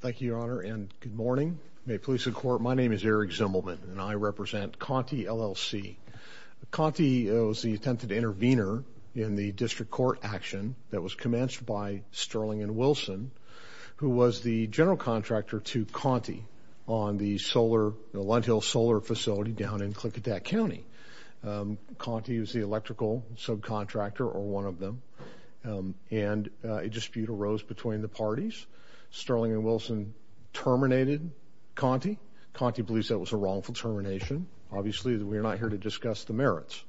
Thank you, Your Honor, and good morning. May it please the Court, my name is Eric Zimmelman and I represent Conti, LLC. Conti was the attempted intervener in the district court action that was commenced by Sterling and Wilson, who was the general contractor to Conti on the Lundhill Solar Facility down in Klickadack County. Conti was the electrical subcontractor, or one of them, and a dispute arose between the parties. Sterling and Wilson terminated Conti. Conti believes that was a wrongful termination. Obviously, we're not here to discuss the merits.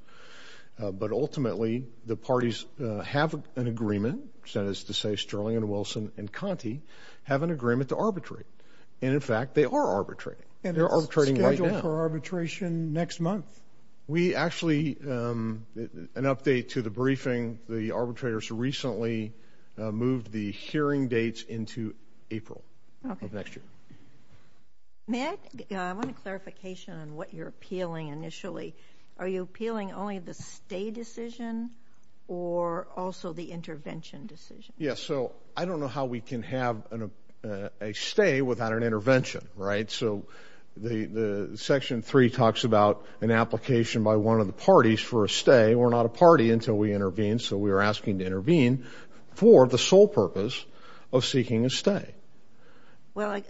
But ultimately, the parties have an agreement, that is to say, Sterling and Wilson and Conti have an agreement to arbitrate. And in fact, they are arbitrating. They're arbitrating right now. And it's scheduled for arbitration next month. We actually, an update to the briefing, the arbitrators recently moved the hearing dates into April of next year. May I, I want a clarification on what you're appealing initially. Are you appealing only the stay decision or also the intervention decision? Yes. So I don't know how we can have a stay without an intervention, right? So the Section 3 talks about an application by one of the parties for a stay. We're not a party until we intervene. So we're asking to intervene for the sole purpose of seeking a stay. Well,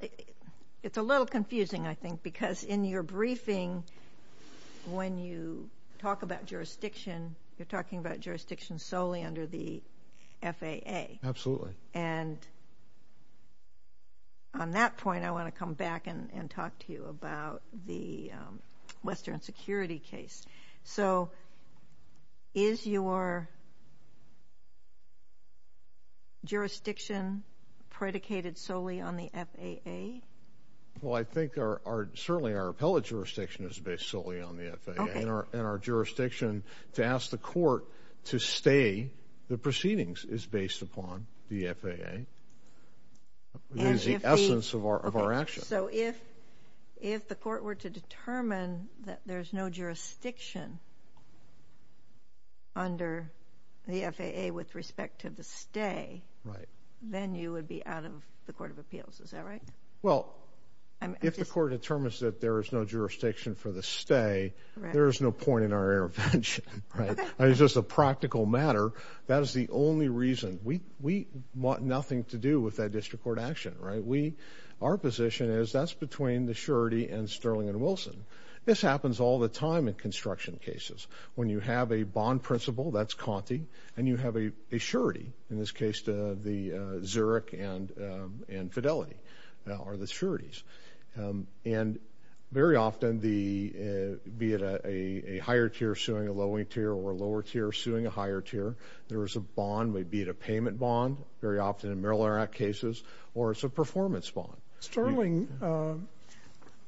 it's a little confusing, I think, because in your briefing, when you talk about jurisdiction, you're talking about jurisdiction solely under the FAA. Absolutely. And on that point, I want to come back and talk to you about the Western Security case. So is your jurisdiction predicated solely on the FAA? Well, I think certainly our appellate jurisdiction is based solely on the FAA. Okay. And our jurisdiction to ask the court to stay the proceedings is based upon the FAA. It is the essence of our action. So if the court were to determine that there's no jurisdiction under the FAA with respect to the stay, then you would be out of the Court of Appeals. Is that right? Well, if the court determines that there is no jurisdiction for the stay, there is no point in our intervention, right? It's just a practical matter. That is the only reason. We want nothing to do with that district court action, right? Our position is that's between the surety and Sterling and Wilson. This happens all the time in construction cases. When you have a bond principal, that's Conti, and you have a surety, in this case the Zurich and Fidelity are the sureties. And very often, be it a higher tier suing a lower tier or a lower tier suing a higher tier, there is a bond, maybe a payment bond, very often in Maryland Act cases, or it's a performance bond. Sterling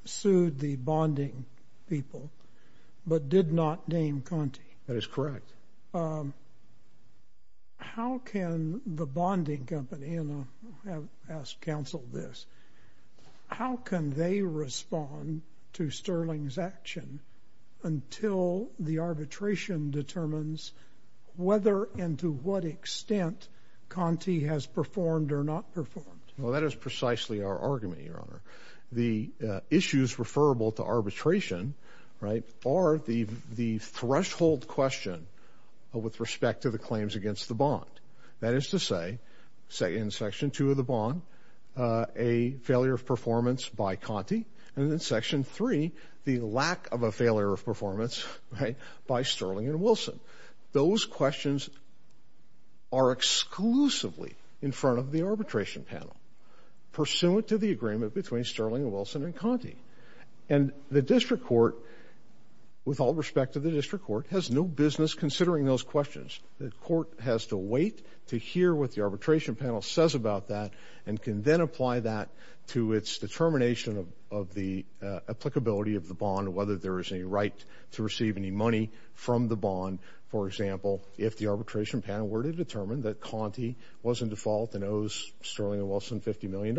sued the bonding people but did not name Conti. That is correct. How can the bonding company—and I'll ask counsel this—how can they respond to Sterling's action until the arbitration determines whether and to what extent Conti has performed or not performed? Well, that is precisely our argument, Your Honor. The issues referable to arbitration are the threshold question with respect to the claims against the bond. That is to say, in Section 2 of the bond, a failure of performance by Conti, and in Section 3, the lack of a failure of performance by Sterling and Wilson. Those questions are exclusively in front of the arbitration panel, pursuant to the agreement between Sterling and Wilson and Conti. And the district court, with all respect to the district court, has no business considering those questions. The court has to wait to hear what the arbitration panel says about that and can then apply that to its determination of the applicability of the bond, whether there is any right to receive any money from the bond. For example, if the arbitration panel were to determine that Conti was in default and owes Sterling and Wilson $50 million,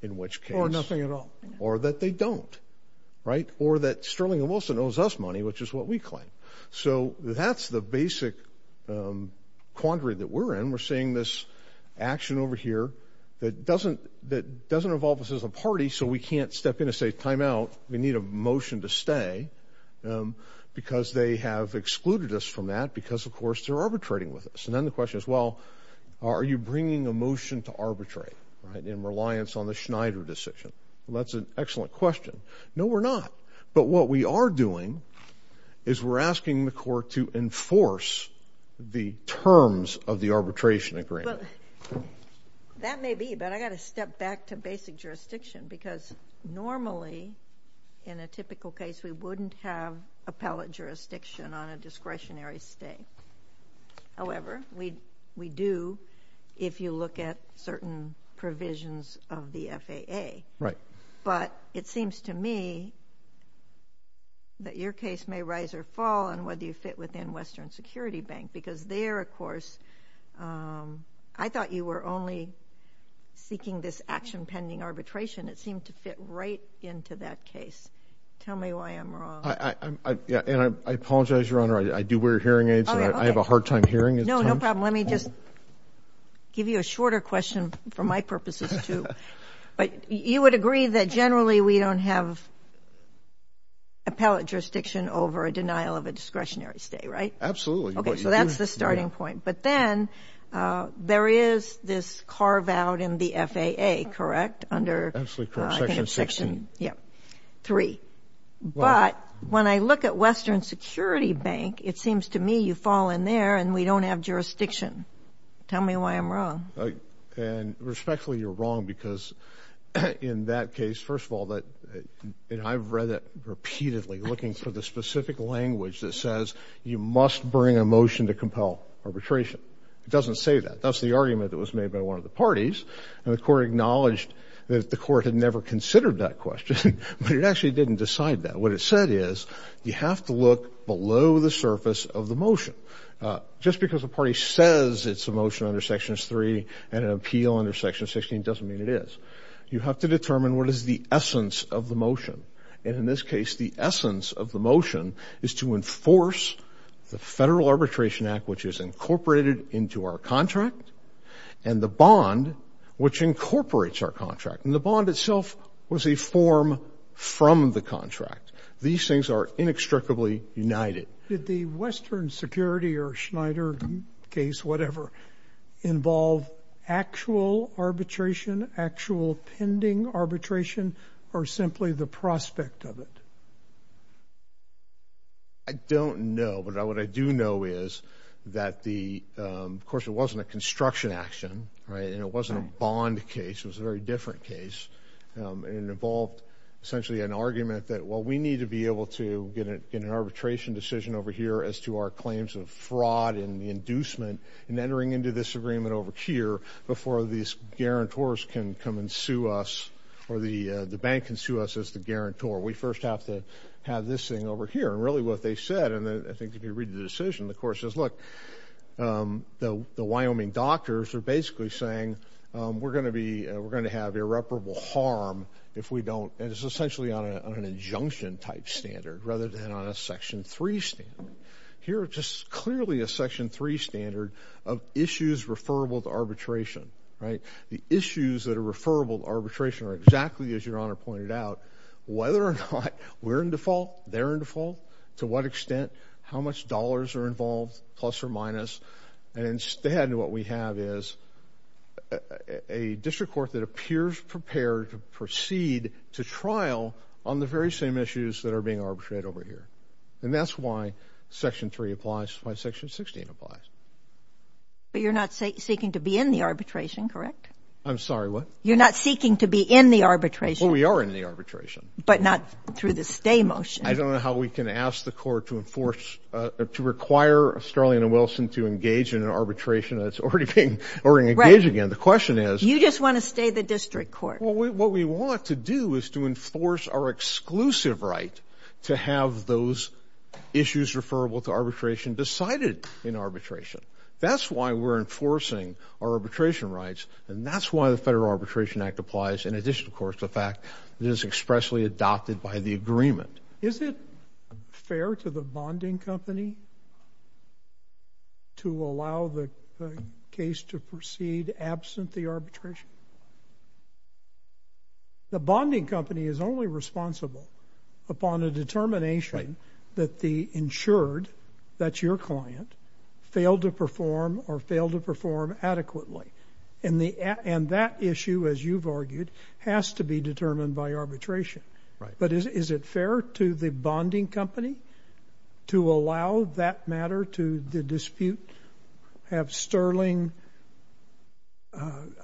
in which case— Or nothing at all. Or that they don't, right? Or that Sterling and Wilson owes us money, which is what we claim. So that's the basic quandary that we're in. We're seeing this action over here that doesn't involve us as a party, so we can't step in and say, time out, we need a motion to stay, because they have excluded us from that because, of course, they're arbitrating with us. And then the question is, well, are you bringing a motion to arbitrate in reliance on the Schneider decision? Well, that's an excellent question. No, we're not. But what we are doing is we're asking the court to enforce the terms of the arbitration agreement. Well, that may be, but I've got to step back to basic jurisdiction, because normally, in a typical case, we wouldn't have appellate jurisdiction on a discretionary stay. However, we do if you look at certain provisions of the FAA. Right. But it seems to me that your case may rise or fall on whether you fit within Western Security Bank, because there, of course, I thought you were only seeking this action pending arbitration. It seemed to fit right into that case. Tell me why I'm wrong. And I apologize, Your Honor. I do wear hearing aids, and I have a hard time hearing at times. No, no problem. Let me just give you a shorter question for my purposes, too. But you would agree that generally we don't have appellate jurisdiction over a denial of a discretionary stay, right? Absolutely. Okay, so that's the starting point. But then there is this carve-out in the FAA, correct, under section 3. But when I look at Western Security Bank, it seems to me you fall in there and we don't have jurisdiction. Tell me why I'm wrong. And respectfully, you're wrong, because in that case, first of all, I've read it repeatedly, looking for the specific language that says you must bring a motion to compel arbitration. It doesn't say that. That's the argument that was made by one of the parties, and the court acknowledged that the court had never considered that question, but it actually didn't decide that. What it said is you have to look below the surface of the motion. Just because a party says it's a motion under section 3 and an appeal under section 16 doesn't mean it is. You have to determine what is the essence of the motion. And in this case, the essence of the motion is to enforce the Federal Arbitration Act, which is incorporated into our contract, and the bond, which incorporates our contract. And the bond itself was a form from the contract. These things are inextricably united. Did the Western Security or Schneider case, whatever, involve actual arbitration, actual pending arbitration, or simply the prospect of it? I don't know, but what I do know is that, of course, it wasn't a construction action, right? And it wasn't a bond case. It was a very different case. It involved essentially an argument that, well, we need to be able to get an arbitration decision over here as to our claims of fraud and the inducement in entering into this agreement over here before these guarantors can come and sue us or the bank can sue us as the guarantor. We first have to have this thing over here. And really what they said, and I think if you read the decision, the court says, look, the Wyoming doctors are basically saying we're going to have irreparable harm if we don't, and it's essentially on an injunction-type standard rather than on a Section 3 standard. Here it's just clearly a Section 3 standard of issues referable to arbitration, right? The issues that are referable to arbitration are exactly, as Your Honor pointed out, whether or not we're in default, they're in default, to what extent, how much dollars are involved, plus or minus. And instead what we have is a district court that appears prepared to proceed to trial on the very same issues that are being arbitrated over here. And that's why Section 3 applies, why Section 16 applies. But you're not seeking to be in the arbitration, correct? I'm sorry, what? You're not seeking to be in the arbitration? Well, we are in the arbitration. But not through the stay motion. I don't know how we can ask the court to enforce, to require Starling and Wilson to engage in an arbitration that's already being engaged again. The question is. You just want to stay the district court. Well, what we want to do is to enforce our exclusive right to have those issues referable to arbitration decided in arbitration. That's why we're enforcing our arbitration rights, and that's why the Federal Arbitration Act applies, in addition, of course, to the fact that it is expressly adopted by the agreement. Is it fair to the bonding company to allow the case to proceed absent the arbitration? The bonding company is only responsible upon a determination that the insured, that's your client, failed to perform or failed to perform adequately. And that issue, as you've argued, has to be determined by arbitration. But is it fair to the bonding company to allow that matter to the dispute, have Sterling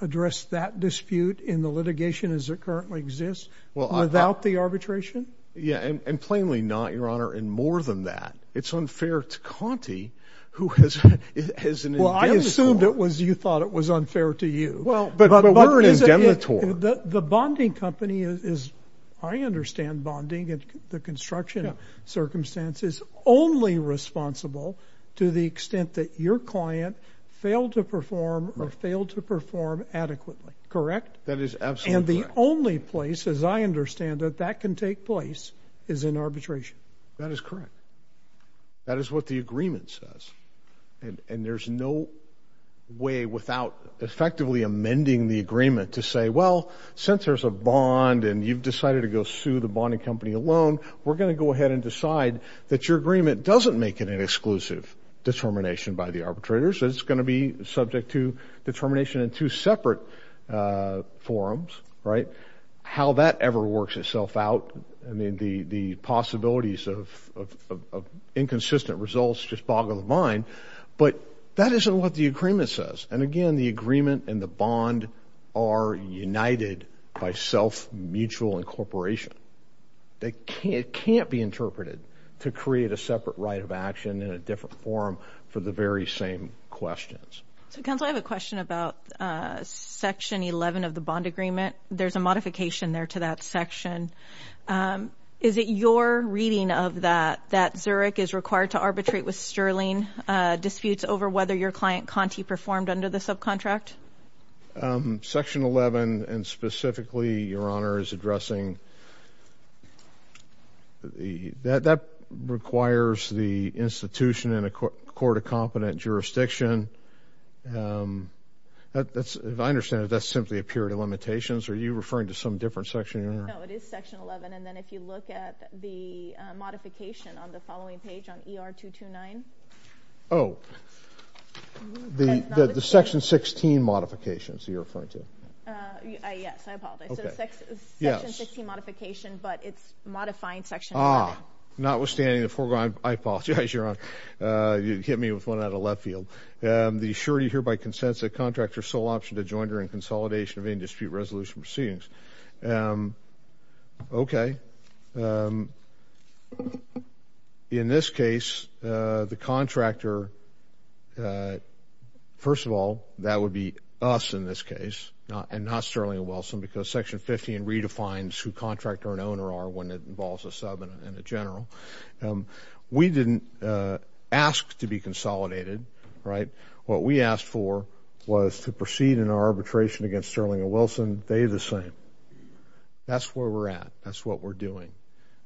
address that dispute in the litigation as it currently exists without the arbitration? Yeah, and plainly not, Your Honor, and more than that. It's unfair to Conti, who has an indemnitory. Well, I assumed it was you thought it was unfair to you. But what is it? The bonding company is, I understand bonding and the construction circumstances, only responsible to the extent that your client failed to perform or failed to perform adequately. Correct? That is absolutely correct. And the only place, as I understand it, that can take place is in arbitration. That is correct. That is what the agreement says. And there's no way without effectively amending the agreement to say, well, since there's a bond and you've decided to go sue the bonding company alone, we're going to go ahead and decide that your agreement doesn't make it an exclusive determination by the arbitrators. It's going to be subject to determination in two separate forums, right? How that ever works itself out, I mean, the possibilities of inconsistent results just boggle the mind. But that isn't what the agreement says. And, again, the agreement and the bond are united by self-mutual incorporation. It can't be interpreted to create a separate right of action in a different forum for the very same questions. So, counsel, I have a question about Section 11 of the bond agreement. There's a modification there to that section. Is it your reading of that, that Zurich is required to arbitrate with Sterling, disputes over whether your client, Conti, performed under the subcontract? Section 11, and specifically, Your Honor, is addressing that that requires the institution and a court of competent jurisdiction. If I understand it, that's simply a period of limitations. Are you referring to some different section, Your Honor? No, it is Section 11. And then if you look at the modification on the following page on ER-229. Oh, the Section 16 modifications you're referring to. Yes, I apologize. So Section 16 modification, but it's modifying Section 11. Ah, notwithstanding the foregoing, I apologize, Your Honor. You hit me with one out of left field. The surety hereby consents that a contractor's sole option to join during consolidation of any dispute resolution proceedings. Okay. In this case, the contractor, first of all, that would be us in this case and not Sterling and Wilson because Section 15 redefines who contractor and owner are when it involves a sub and a general. We didn't ask to be consolidated, right? What we asked for was to proceed in our arbitration against Sterling and Wilson. They did the same. That's where we're at. That's what we're doing.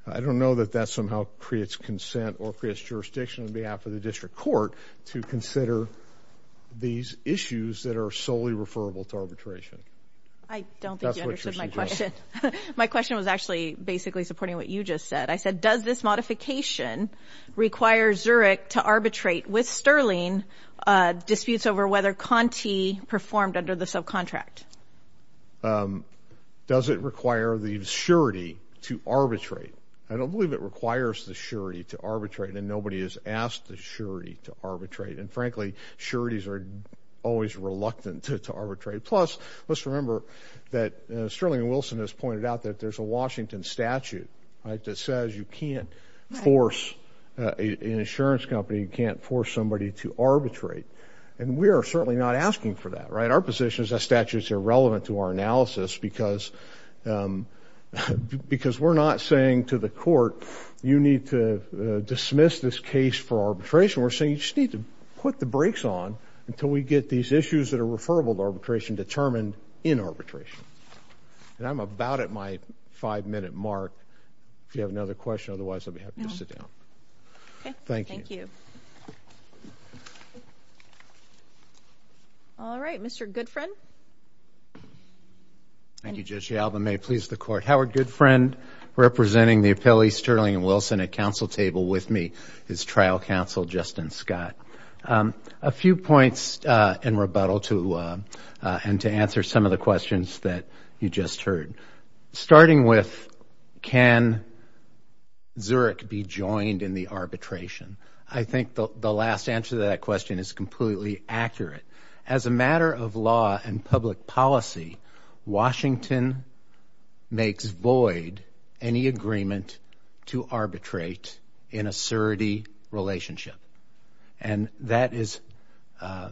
I don't know that that somehow creates consent or creates jurisdiction on behalf of the district court to consider these issues that are solely referable to arbitration. I don't think you understood my question. My question was actually basically supporting what you just said. I said, does this modification require Zurich to arbitrate with Sterling disputes over whether Conti performed under the subcontract? Does it require the surety to arbitrate? I don't believe it requires the surety to arbitrate, and nobody has asked the surety to arbitrate. And, frankly, sureties are always reluctant to arbitrate. Plus, let's remember that Sterling and Wilson has pointed out that there's a Washington statute that says you can't force an insurance company, you can't force somebody to arbitrate. And we are certainly not asking for that, right? Our position is that statute is irrelevant to our analysis because we're not saying to the court, you need to dismiss this case for arbitration. We're saying you just need to put the brakes on until we get these issues that are referable to arbitration determined in arbitration. And I'm about at my five-minute mark. If you have another question, otherwise I'll be happy to sit down. Thank you. All right. Mr. Goodfriend. Thank you, Judge Yalba. May it please the Court. Howard Goodfriend, representing the appellees Sterling and Wilson at council table with me. It's trial counsel Justin Scott. A few points in rebuttal and to answer some of the questions that you just heard. Starting with, can Zurich be joined in the arbitration? I think the last answer to that question is completely accurate. As a matter of law and public policy, Washington makes void any agreement to arbitrate in a surety relationship. And that is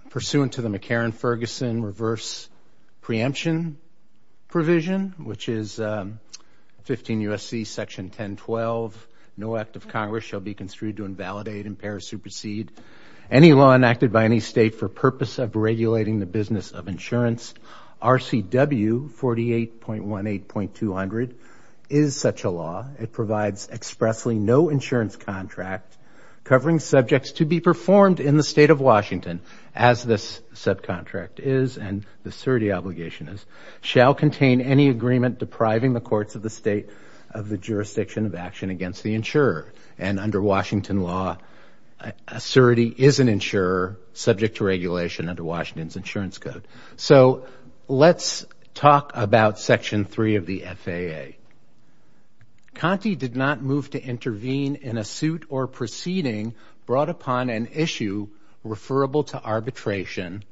pursuant to the McCarran-Ferguson reverse preemption provision, which is 15 U.S.C. section 1012, no act of Congress shall be construed to invalidate, impair, or supersede any law enacted by any state for purpose of regulating the business of insurance. RCW 48.18.200 is such a law. It provides expressly no insurance contract covering subjects to be performed in the state of Washington, as this subcontract is and the surety obligation is, shall contain any agreement depriving the courts of the state of the jurisdiction of action against the insurer. And under Washington law, a surety is an insurer subject to regulation under Washington's insurance code. So let's talk about section 3 of the FAA. Conte did not move to intervene in a suit or proceeding brought upon an issue referable to arbitration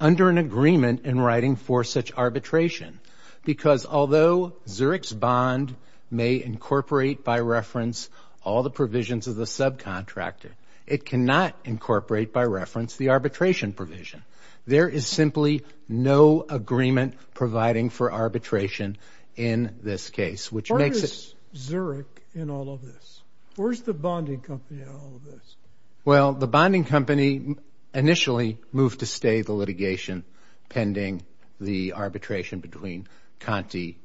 under an agreement in writing for such arbitration. Because although Zurich's bond may incorporate by reference all the provisions of the subcontractor, it cannot incorporate by reference the arbitration provision. There is simply no agreement providing for arbitration in this case, which makes it... Why is Zurich in all of this? Where's the bonding company in all of this? Well, the bonding company initially moved to stay the litigation pending the arbitration between Conte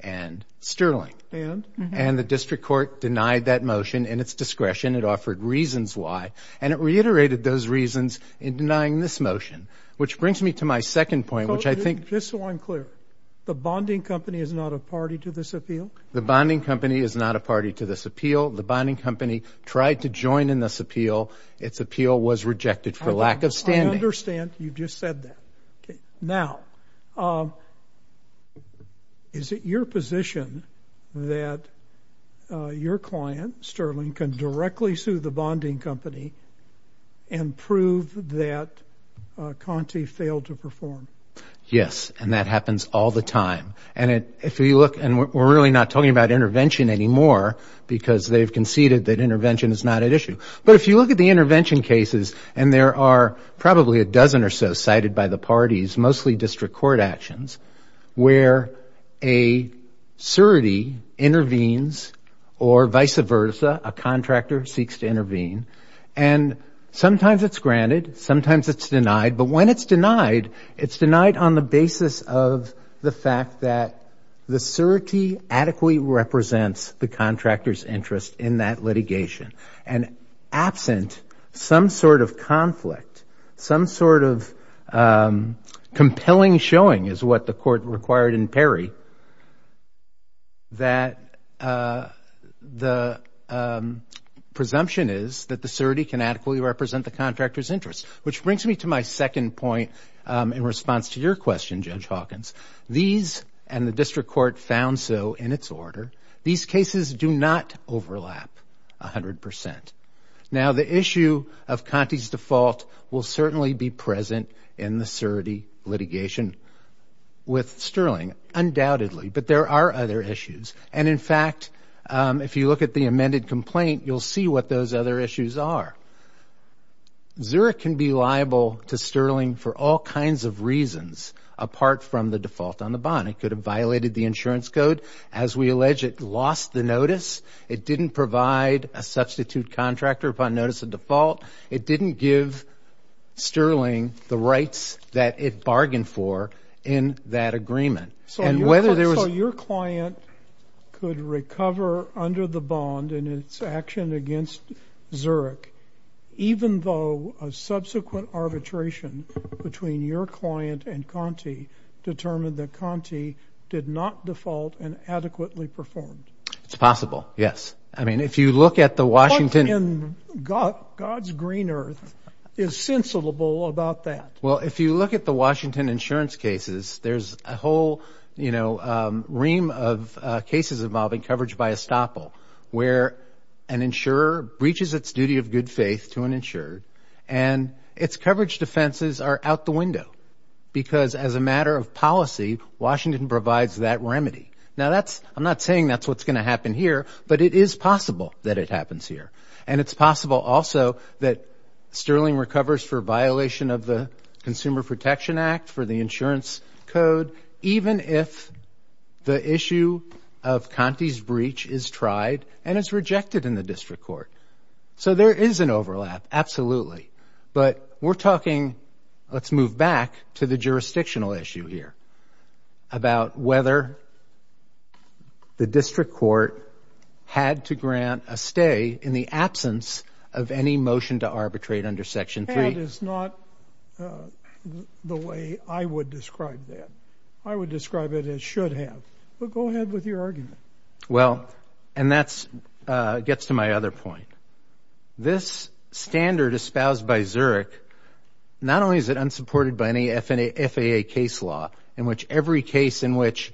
and Sterling. And? And the district court denied that motion in its discretion. It offered reasons why, and it reiterated those reasons in denying this motion, which brings me to my second point, which I think... Just so I'm clear, the bonding company is not a party to this appeal? The bonding company is not a party to this appeal. The bonding company tried to join in this appeal. Its appeal was rejected for lack of standing. You just said that. Now, is it your position that your client, Sterling, can directly sue the bonding company and prove that Conte failed to perform? Yes, and that happens all the time. And if you look... And we're really not talking about intervention anymore, because they've conceded that intervention is not at issue. But if you look at the intervention cases, and there are probably a dozen or so cited by the parties, mostly district court actions, where a surety intervenes or vice versa, a contractor seeks to intervene, and sometimes it's granted, sometimes it's denied. But when it's denied, it's denied on the basis of the fact that the surety adequately represents the contractor's interest in that litigation. And absent some sort of conflict, some sort of compelling showing, is what the court required in Perry, that the presumption is that the surety can adequately represent the contractor's interest. Which brings me to my second point in response to your question, Judge Hawkins. These, and the district court, found so in its order. These cases do not overlap 100%. Now, the issue of Conte's default will certainly be present in the surety litigation with Sterling, undoubtedly. But there are other issues. And in fact, if you look at the amended complaint, you'll see what those other issues are. Zurich can be liable to Sterling for all kinds of reasons, apart from the default on the bond. It could have violated the insurance code. As we allege, it lost the notice. It didn't provide a substitute contractor upon notice of default. It didn't give Sterling the rights that it bargained for in that agreement. So your client could recover under the bond in its action against Zurich, even though a subsequent arbitration between your client and Conte determined that Conte did not default and adequately performed? It's possible, yes. I mean, if you look at the Washington – What in God's green earth is sensible about that? Well, if you look at the Washington insurance cases, there's a whole, you know, ream of cases involving coverage by estoppel, where an insurer breaches its duty of good faith to an insured, and its coverage defenses are out the window, because as a matter of policy, Washington provides that remedy. Now, that's – I'm not saying that's what's going to happen here, but it is possible that it happens here. And it's possible also that Sterling recovers for violation of the Consumer Protection Act, for the insurance code, even if the issue of Conte's breach is tried and is rejected in the district court. So there is an overlap, absolutely. But we're talking – let's move back to the jurisdictional issue here, about whether the district court had to grant a stay in the absence of any motion to arbitrate under Section 3. That is not the way I would describe that. I would describe it as should have. But go ahead with your argument. Well, and that gets to my other point. This standard espoused by Zurich, not only is it unsupported by any FAA case law, in which every case in which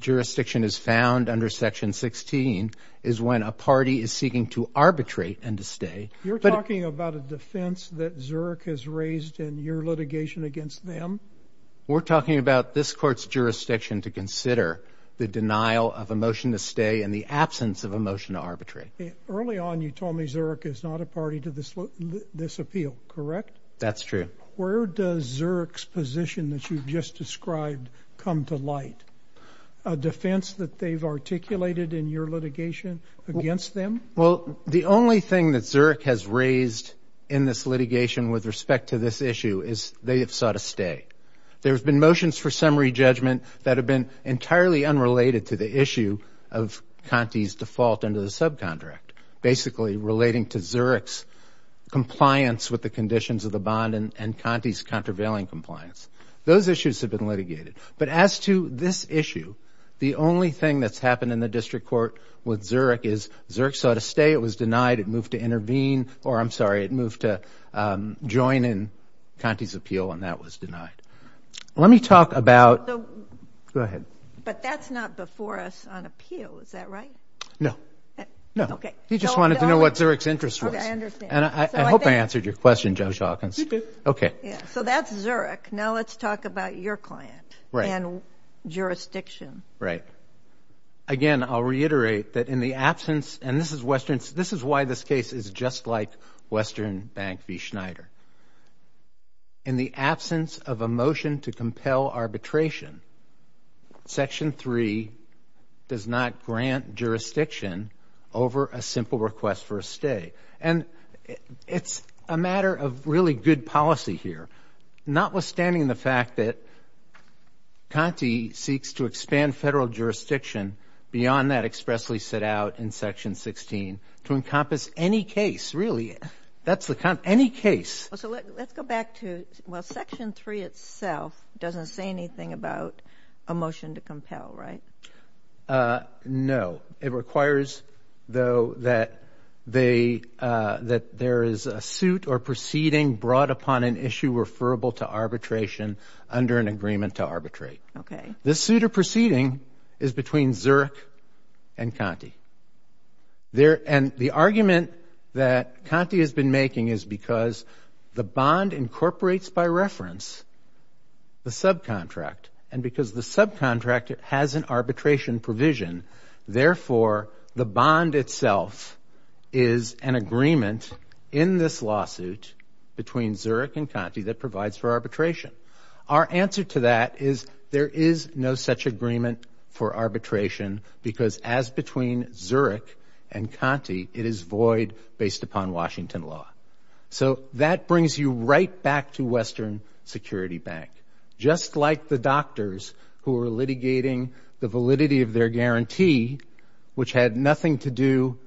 jurisdiction is found under Section 16 is when a party is seeking to arbitrate and to stay. You're talking about a defense that Zurich has raised in your litigation against them? We're talking about this court's jurisdiction to consider the denial of a motion to stay in the absence of a motion to arbitrate. Early on you told me Zurich is not a party to this appeal, correct? That's true. Where does Zurich's position that you've just described come to light? A defense that they've articulated in your litigation against them? Well, the only thing that Zurich has raised in this litigation with respect to this issue is they have sought a stay. There have been motions for summary judgment that have been entirely unrelated to the issue of Conte's default under the subcontract, basically relating to Zurich's compliance with the conditions of the bond and Conte's contravailing compliance. Those issues have been litigated. But as to this issue, the only thing that's happened in the district court with Zurich is Zurich sought a stay. It was denied. It moved to intervene. Or I'm sorry, it moved to join in Conte's appeal, and that was denied. Let me talk about – go ahead. But that's not before us on appeal, is that right? No. No. Okay. He just wanted to know what Zurich's interest was. Okay, I understand. And I hope I answered your question, Judge Hawkins. You did. Okay. So that's Zurich. Now let's talk about your client and jurisdiction. Right. Again, I'll reiterate that in the absence – and this is why this case is just like Western Bank v. Schneider. In the absence of a motion to compel arbitration, Section 3 does not grant jurisdiction over a simple request for a stay. And it's a matter of really good policy here. Notwithstanding the fact that Conte seeks to expand federal jurisdiction beyond that expressly set out in Section 16 to encompass any case, really, any case. So let's go back to – well, Section 3 itself doesn't say anything about a motion to compel, right? No. It requires, though, that there is a suit or proceeding brought upon an issue referable to arbitration under an agreement to arbitrate. Okay. This suit or proceeding is between Zurich and Conte. And the argument that Conte has been making is because the bond incorporates by reference the subcontract. And because the subcontract has an arbitration provision, therefore, the bond itself is an agreement in this lawsuit between Zurich and Conte that provides for arbitration. Our answer to that is there is no such agreement for arbitration because as between Zurich and Conte, it is void based upon Washington law. So that brings you right back to Western Security Bank. Just like the doctors who were litigating the validity of their guarantee, which had nothing to do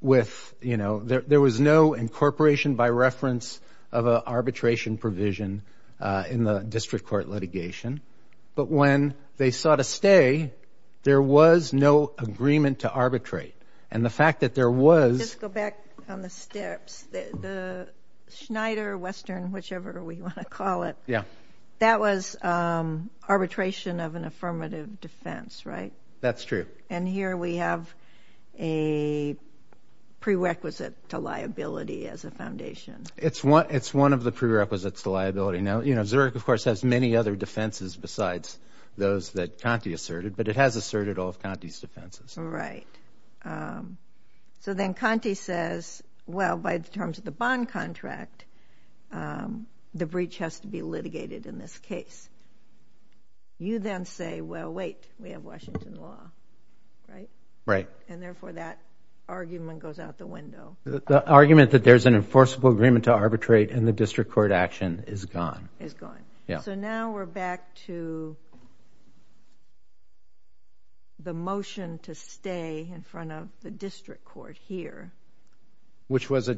with – there was no incorporation by reference of an arbitration provision in the district court litigation. But when they sought a stay, there was no agreement to arbitrate. And the fact that there was – Let's go back on the steps. The Schneider, Western, whichever we want to call it, that was arbitration of an affirmative defense, right? That's true. And here we have a prerequisite to liability as a foundation. It's one of the prerequisites to liability. Now, Zurich, of course, has many other defenses besides those that Conte asserted, but it has asserted all of Conte's defenses. Right. So then Conte says, well, by the terms of the bond contract, the breach has to be litigated in this case. You then say, well, wait, we have Washington law, right? Right. And therefore, that argument goes out the window. The argument that there's an enforceable agreement to arbitrate in the district court action is gone. Is gone. Yeah. So now we're back to the motion to stay in front of the district court here. Which was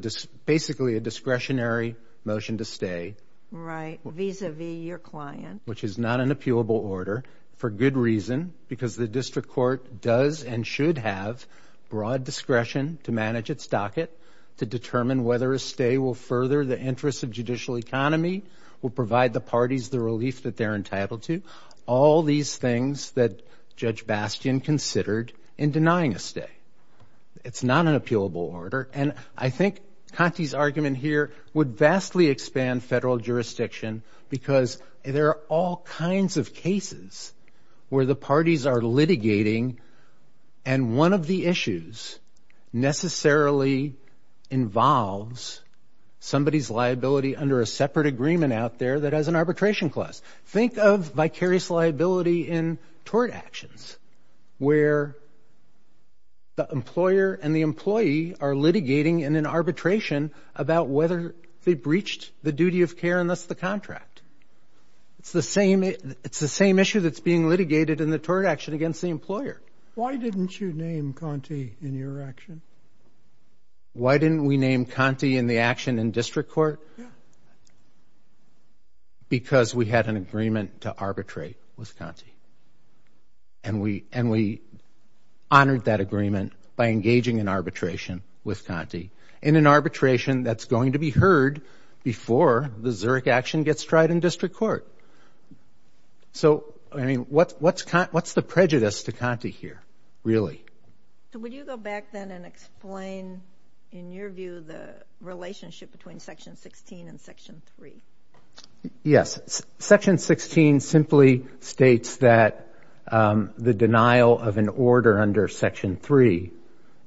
basically a discretionary motion to stay. Right. Vis-a-vis your client. Which is not an appealable order for good reason, because the district court does and should have broad discretion to manage its docket, to determine whether a stay will further the interests of judicial economy, will provide the parties the relief that they're entitled to. All these things that Judge Bastian considered in denying a stay. It's not an appealable order. And I think Conte's argument here would vastly expand federal jurisdiction, because there are all kinds of cases where the parties are litigating, and one of the issues necessarily involves somebody's liability under a separate agreement out there that has an arbitration clause. Think of vicarious liability in tort actions, where the employer and the employee are litigating in an arbitration about whether they breached the duty of care and thus the contract. It's the same issue that's being litigated in the tort action against the employer. Why didn't you name Conte in your action? Why didn't we name Conte in the action in district court? Because we had an agreement to arbitrate with Conte. And we honored that agreement by engaging in arbitration with Conte. In an arbitration that's going to be heard before the Zurich action gets tried in district court. So, I mean, what's the prejudice to Conte here, really? So would you go back then and explain, in your view, the relationship between Section 16 and Section 3? Yes. Section 16 simply states that the denial of an order under Section 3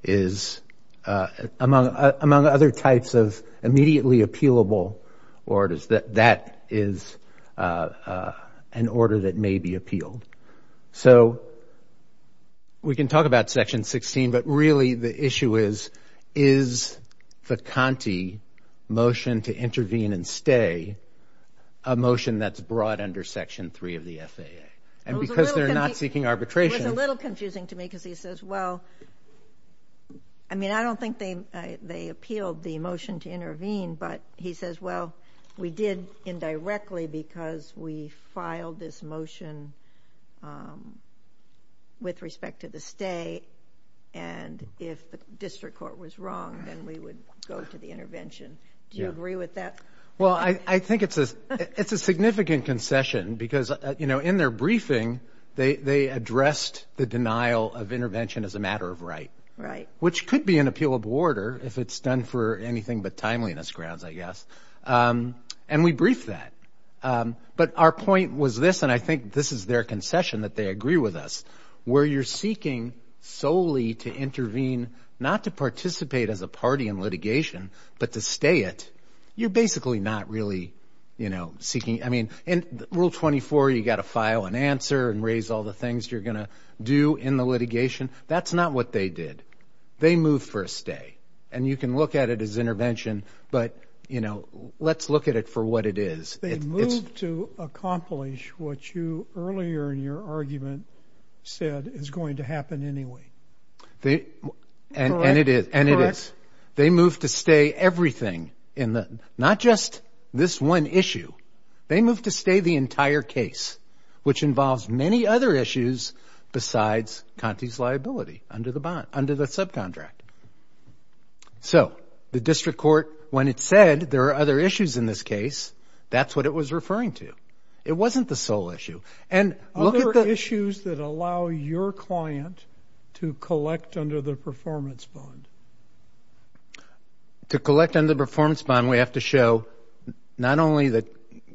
is, among other types of immediately appealable orders, that that is an order that may be appealed. So we can talk about Section 16, but really the issue is, is the Conte motion to intervene and stay a motion that's brought under Section 3 of the FAA? And because they're not seeking arbitration. It was a little confusing to me because he says, well, I mean, I don't think they appealed the motion to intervene, but he says, well, we did indirectly because we filed this motion with respect to the stay. And if the district court was wrong, then we would go to the intervention. Do you agree with that? Well, I think it's a significant concession because, you know, in their briefing, they addressed the denial of intervention as a matter of right. Right. Which could be an appealable order if it's done for anything but timeliness grounds, I guess. And we briefed that. But our point was this, and I think this is their concession that they agree with us, where you're seeking solely to intervene not to participate as a party in litigation, but to stay it. You're basically not really, you know, seeking. I mean, in Rule 24, you've got to file an answer and raise all the things you're going to do in the litigation. That's not what they did. They moved for a stay. And you can look at it as intervention, but, you know, let's look at it for what it is. They moved to accomplish what you earlier in your argument said is going to happen anyway. And it is. Correct? And it is. They moved to stay everything, not just this one issue. They moved to stay the entire case, which involves many other issues besides Conte's liability under the subcontract. So the district court, when it said there are other issues in this case, that's what it was referring to. It wasn't the sole issue. Other issues that allow your client to collect under the performance bond? To collect under the performance bond, we have to show not only that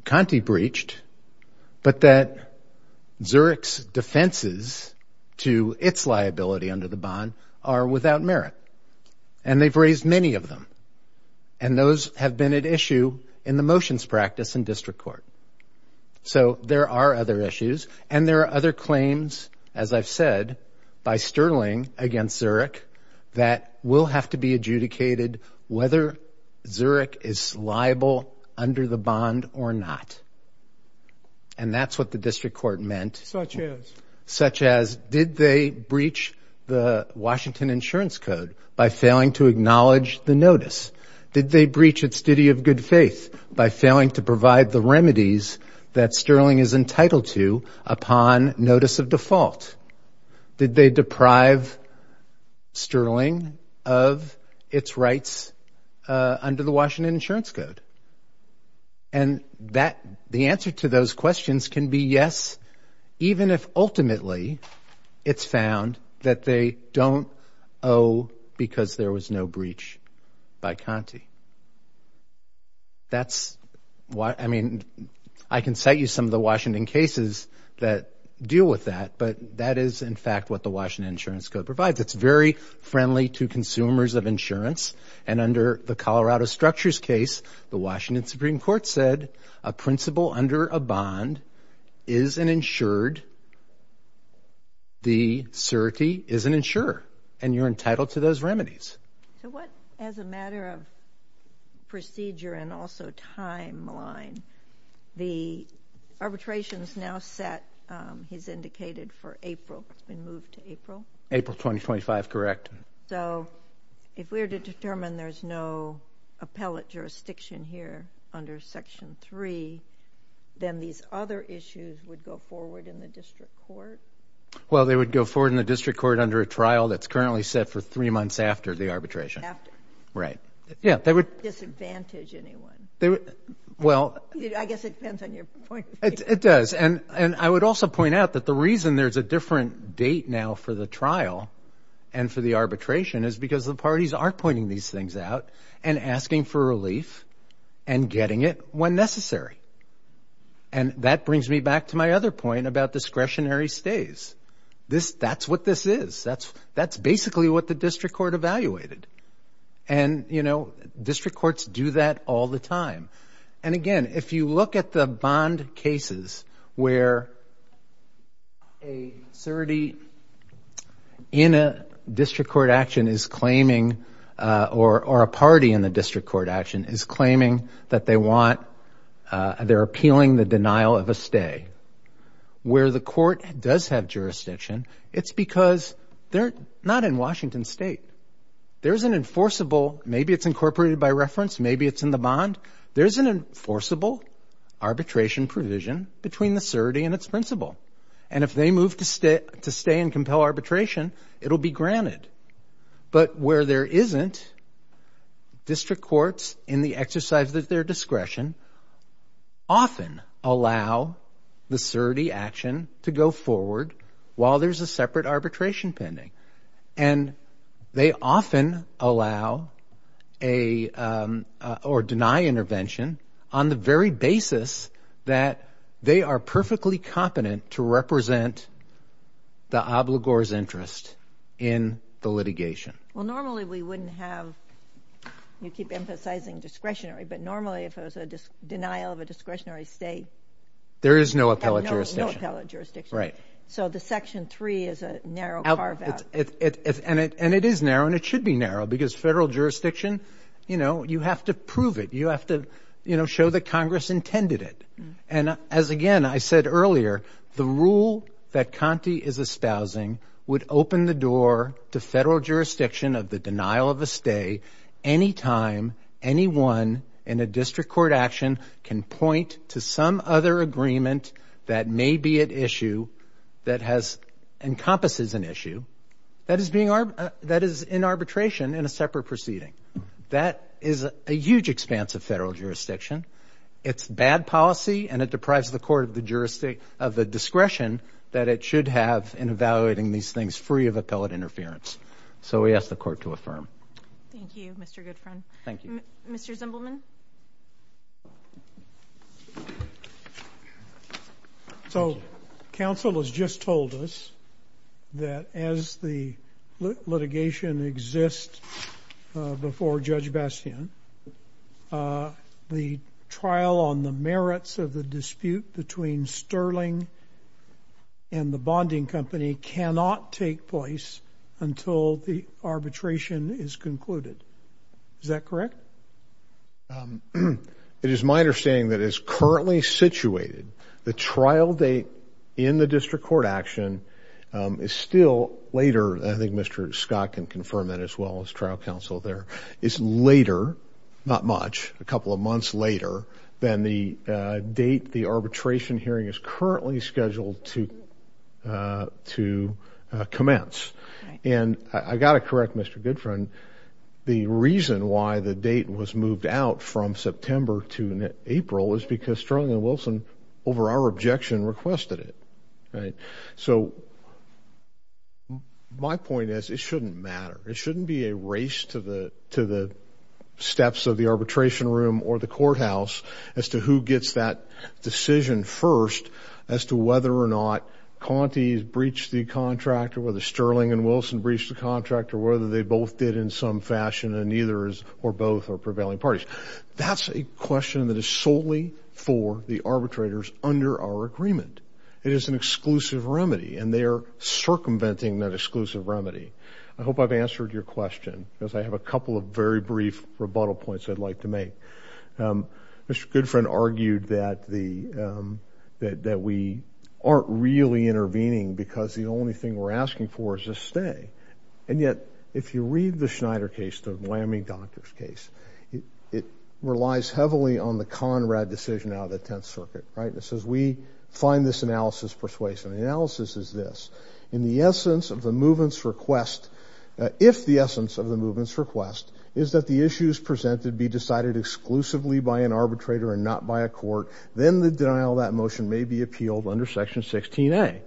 Conte breached, but that Zurich's defenses to its liability under the bond are without merit. And they've raised many of them. And those have been at issue in the motions practice in district court. So there are other issues. And there are other claims, as I've said, by Sterling against Zurich, that will have to be adjudicated whether Zurich is liable under the bond or not. And that's what the district court meant. Such as? Such as did they breach the Washington Insurance Code by failing to acknowledge the notice? Did they breach its duty of good faith by failing to provide the remedies that Sterling is entitled to upon notice of default? Did they deprive Sterling of its rights under the Washington Insurance Code? And the answer to those questions can be yes, even if ultimately it's found that they don't owe because there was no breach by Conte. That's why, I mean, I can cite you some of the Washington cases that deal with that. But that is, in fact, what the Washington Insurance Code provides. It's very friendly to consumers of insurance. And under the Colorado Structures case, the Washington Supreme Court said a principal under a bond is an insured. The surety is an insurer. And you're entitled to those remedies. So what, as a matter of procedure and also timeline, the arbitrations now set, as indicated, for April? It's been moved to April? April 2025, correct. So if we were to determine there's no appellate jurisdiction here under Section 3, then these other issues would go forward in the district court? Well, they would go forward in the district court under a trial that's currently set for three months after the arbitration. After? Right. Yeah, they would- Disadvantage anyone? Well- I guess it depends on your point. It does. And I would also point out that the reason there's a different date now for the trial and for the arbitration is because the parties are pointing these things out and asking for relief and getting it when necessary. And that brings me back to my other point about discretionary stays. That's what this is. That's basically what the district court evaluated. And, you know, district courts do that all the time. And, again, if you look at the bond cases where a certee in a district court action is claiming or a party in the district court action is claiming that they want-they're appealing the denial of a stay, where the court does have jurisdiction, it's because they're not in Washington State. There's an enforceable-maybe it's incorporated by reference, maybe it's in the bond. There's an enforceable arbitration provision between the certee and its principal. And if they move to stay and compel arbitration, it'll be granted. But where there isn't, district courts, in the exercise of their discretion, often allow the certee action to go forward while there's a separate arbitration pending. And they often allow or deny intervention on the very basis that they are perfectly competent to represent the obligor's interest in the litigation. Well, normally we wouldn't have-you keep emphasizing discretionary, but normally if it was a denial of a discretionary stay- There is no appellate jurisdiction. No appellate jurisdiction. Right. So the Section 3 is a narrow carve-out. And it is narrow, and it should be narrow, because federal jurisdiction, you know, you have to prove it. You have to, you know, show that Congress intended it. And as, again, I said earlier, the rule that Conte is espousing would open the door to federal jurisdiction of the denial of a stay any time anyone in a district court action can point to some other agreement that may be at issue, that has-encompasses an issue, that is in arbitration in a separate proceeding. That is a huge expanse of federal jurisdiction. It's bad policy, and it deprives the court of the discretion that it should have in evaluating these things free of appellate interference. So we ask the Court to affirm. Thank you, Mr. Goodfriend. Thank you. Mr. Zimbelman? So counsel has just told us that as the litigation exists before Judge Bastien, the trial on the merits of the dispute between Sterling and the bonding company cannot take place until the arbitration is concluded. Is that correct? It is my understanding that as currently situated, the trial date in the district court action is still later. I think Mr. Scott can confirm that as well as trial counsel there. It's later, not much, a couple of months later than the date the arbitration hearing is currently scheduled to commence. And I've got to correct Mr. Goodfriend. The reason why the date was moved out from September to April is because Sterling and Wilson, over our objection, requested it. So my point is it shouldn't matter. It shouldn't be a race to the steps of the arbitration room or the courthouse as to who gets that decision first as to whether or not Conte's breached the contract or whether Sterling and Wilson breached the contract or whether they both did in some fashion and neither or both are prevailing parties. That's a question that is solely for the arbitrators under our agreement. It is an exclusive remedy, and they are circumventing that exclusive remedy. I hope I've answered your question because I have a couple of very brief rebuttal points I'd like to make. Mr. Goodfriend argued that we aren't really intervening because the only thing we're asking for is a stay. And yet if you read the Schneider case, the lambing doctor's case, it relies heavily on the Conrad decision out of the Tenth Circuit, right? It says we find this analysis persuasive. The analysis is this. If the essence of the movement's request is that the issues presented be decided exclusively by an arbitrator and not by a court, then the denial of that motion may be appealed under Section 16A.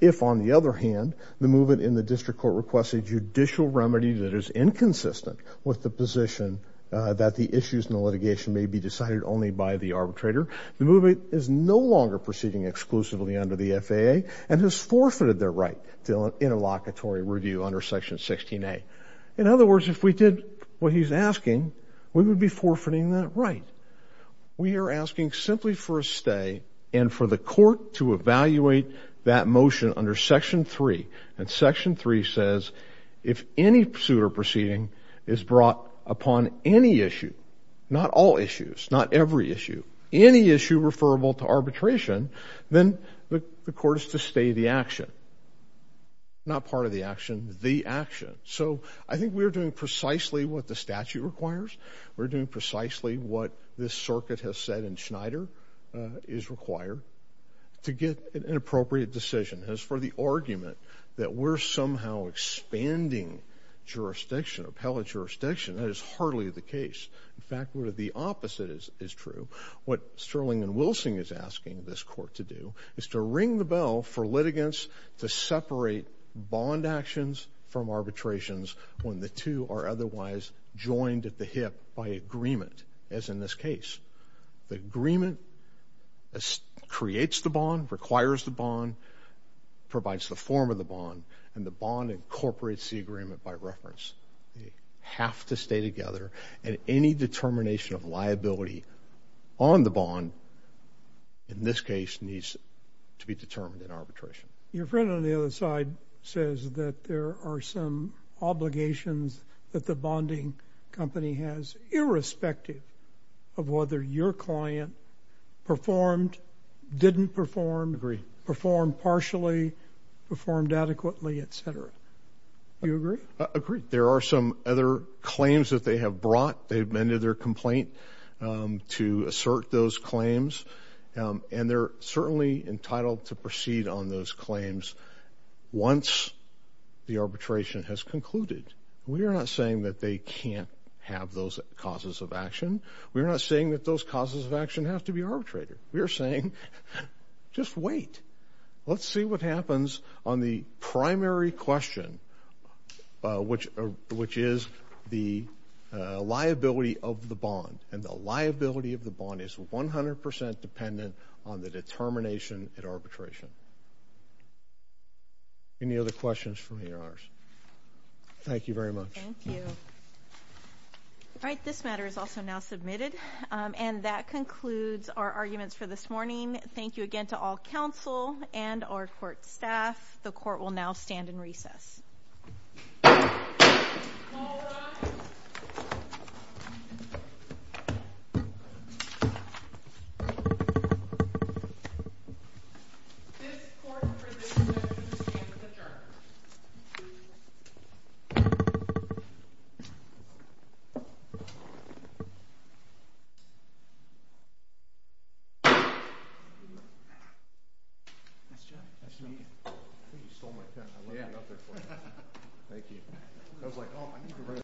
If, on the other hand, the movement in the district court requests a judicial remedy that is inconsistent with the position that the issues in the litigation may be decided only by the arbitrator, the movement is no longer proceeding exclusively under the FAA and has forfeited their right to an interlocutory review under Section 16A. In other words, if we did what he's asking, we would be forfeiting that right. We are asking simply for a stay and for the court to evaluate that motion under Section 3. And Section 3 says if any suit or proceeding is brought upon any issue, not all issues, not every issue, any issue referable to arbitration, then the court is to stay the action. Not part of the action, the action. So I think we are doing precisely what the statute requires. We're doing precisely what this circuit has said in Schneider is required to get an appropriate decision. As for the argument that we're somehow expanding jurisdiction, appellate jurisdiction, that is hardly the case. In fact, the opposite is true. What Sterling and Wilson is asking this court to do is to ring the bell for litigants to separate bond actions from arbitrations when the two are otherwise joined at the hip by agreement, as in this case. The agreement creates the bond, requires the bond, provides the form of the bond, and the bond incorporates the agreement by reference. They have to stay together. And any determination of liability on the bond, in this case, needs to be determined in arbitration. Your friend on the other side says that there are some obligations that the bonding company has, irrespective of whether your client performed, didn't perform, performed partially, performed adequately, et cetera. Do you agree? I agree. There are some other claims that they have brought. They've amended their complaint to assert those claims. And they're certainly entitled to proceed on those claims once the arbitration has concluded. We are not saying that they can't have those causes of action. We are not saying that those causes of action have to be arbitrated. We are saying just wait. Let's see what happens on the primary question, which is the liability of the bond. And the liability of the bond is 100% dependent on the determination at arbitration. Any other questions for me, Your Honors? Thank you very much. Thank you. All right, this matter is also now submitted. And that concludes our arguments for this morning. Thank you again to all counsel and our court staff. The court will now stand in recess. All rise. This court presented to stand adjourned. Thank you.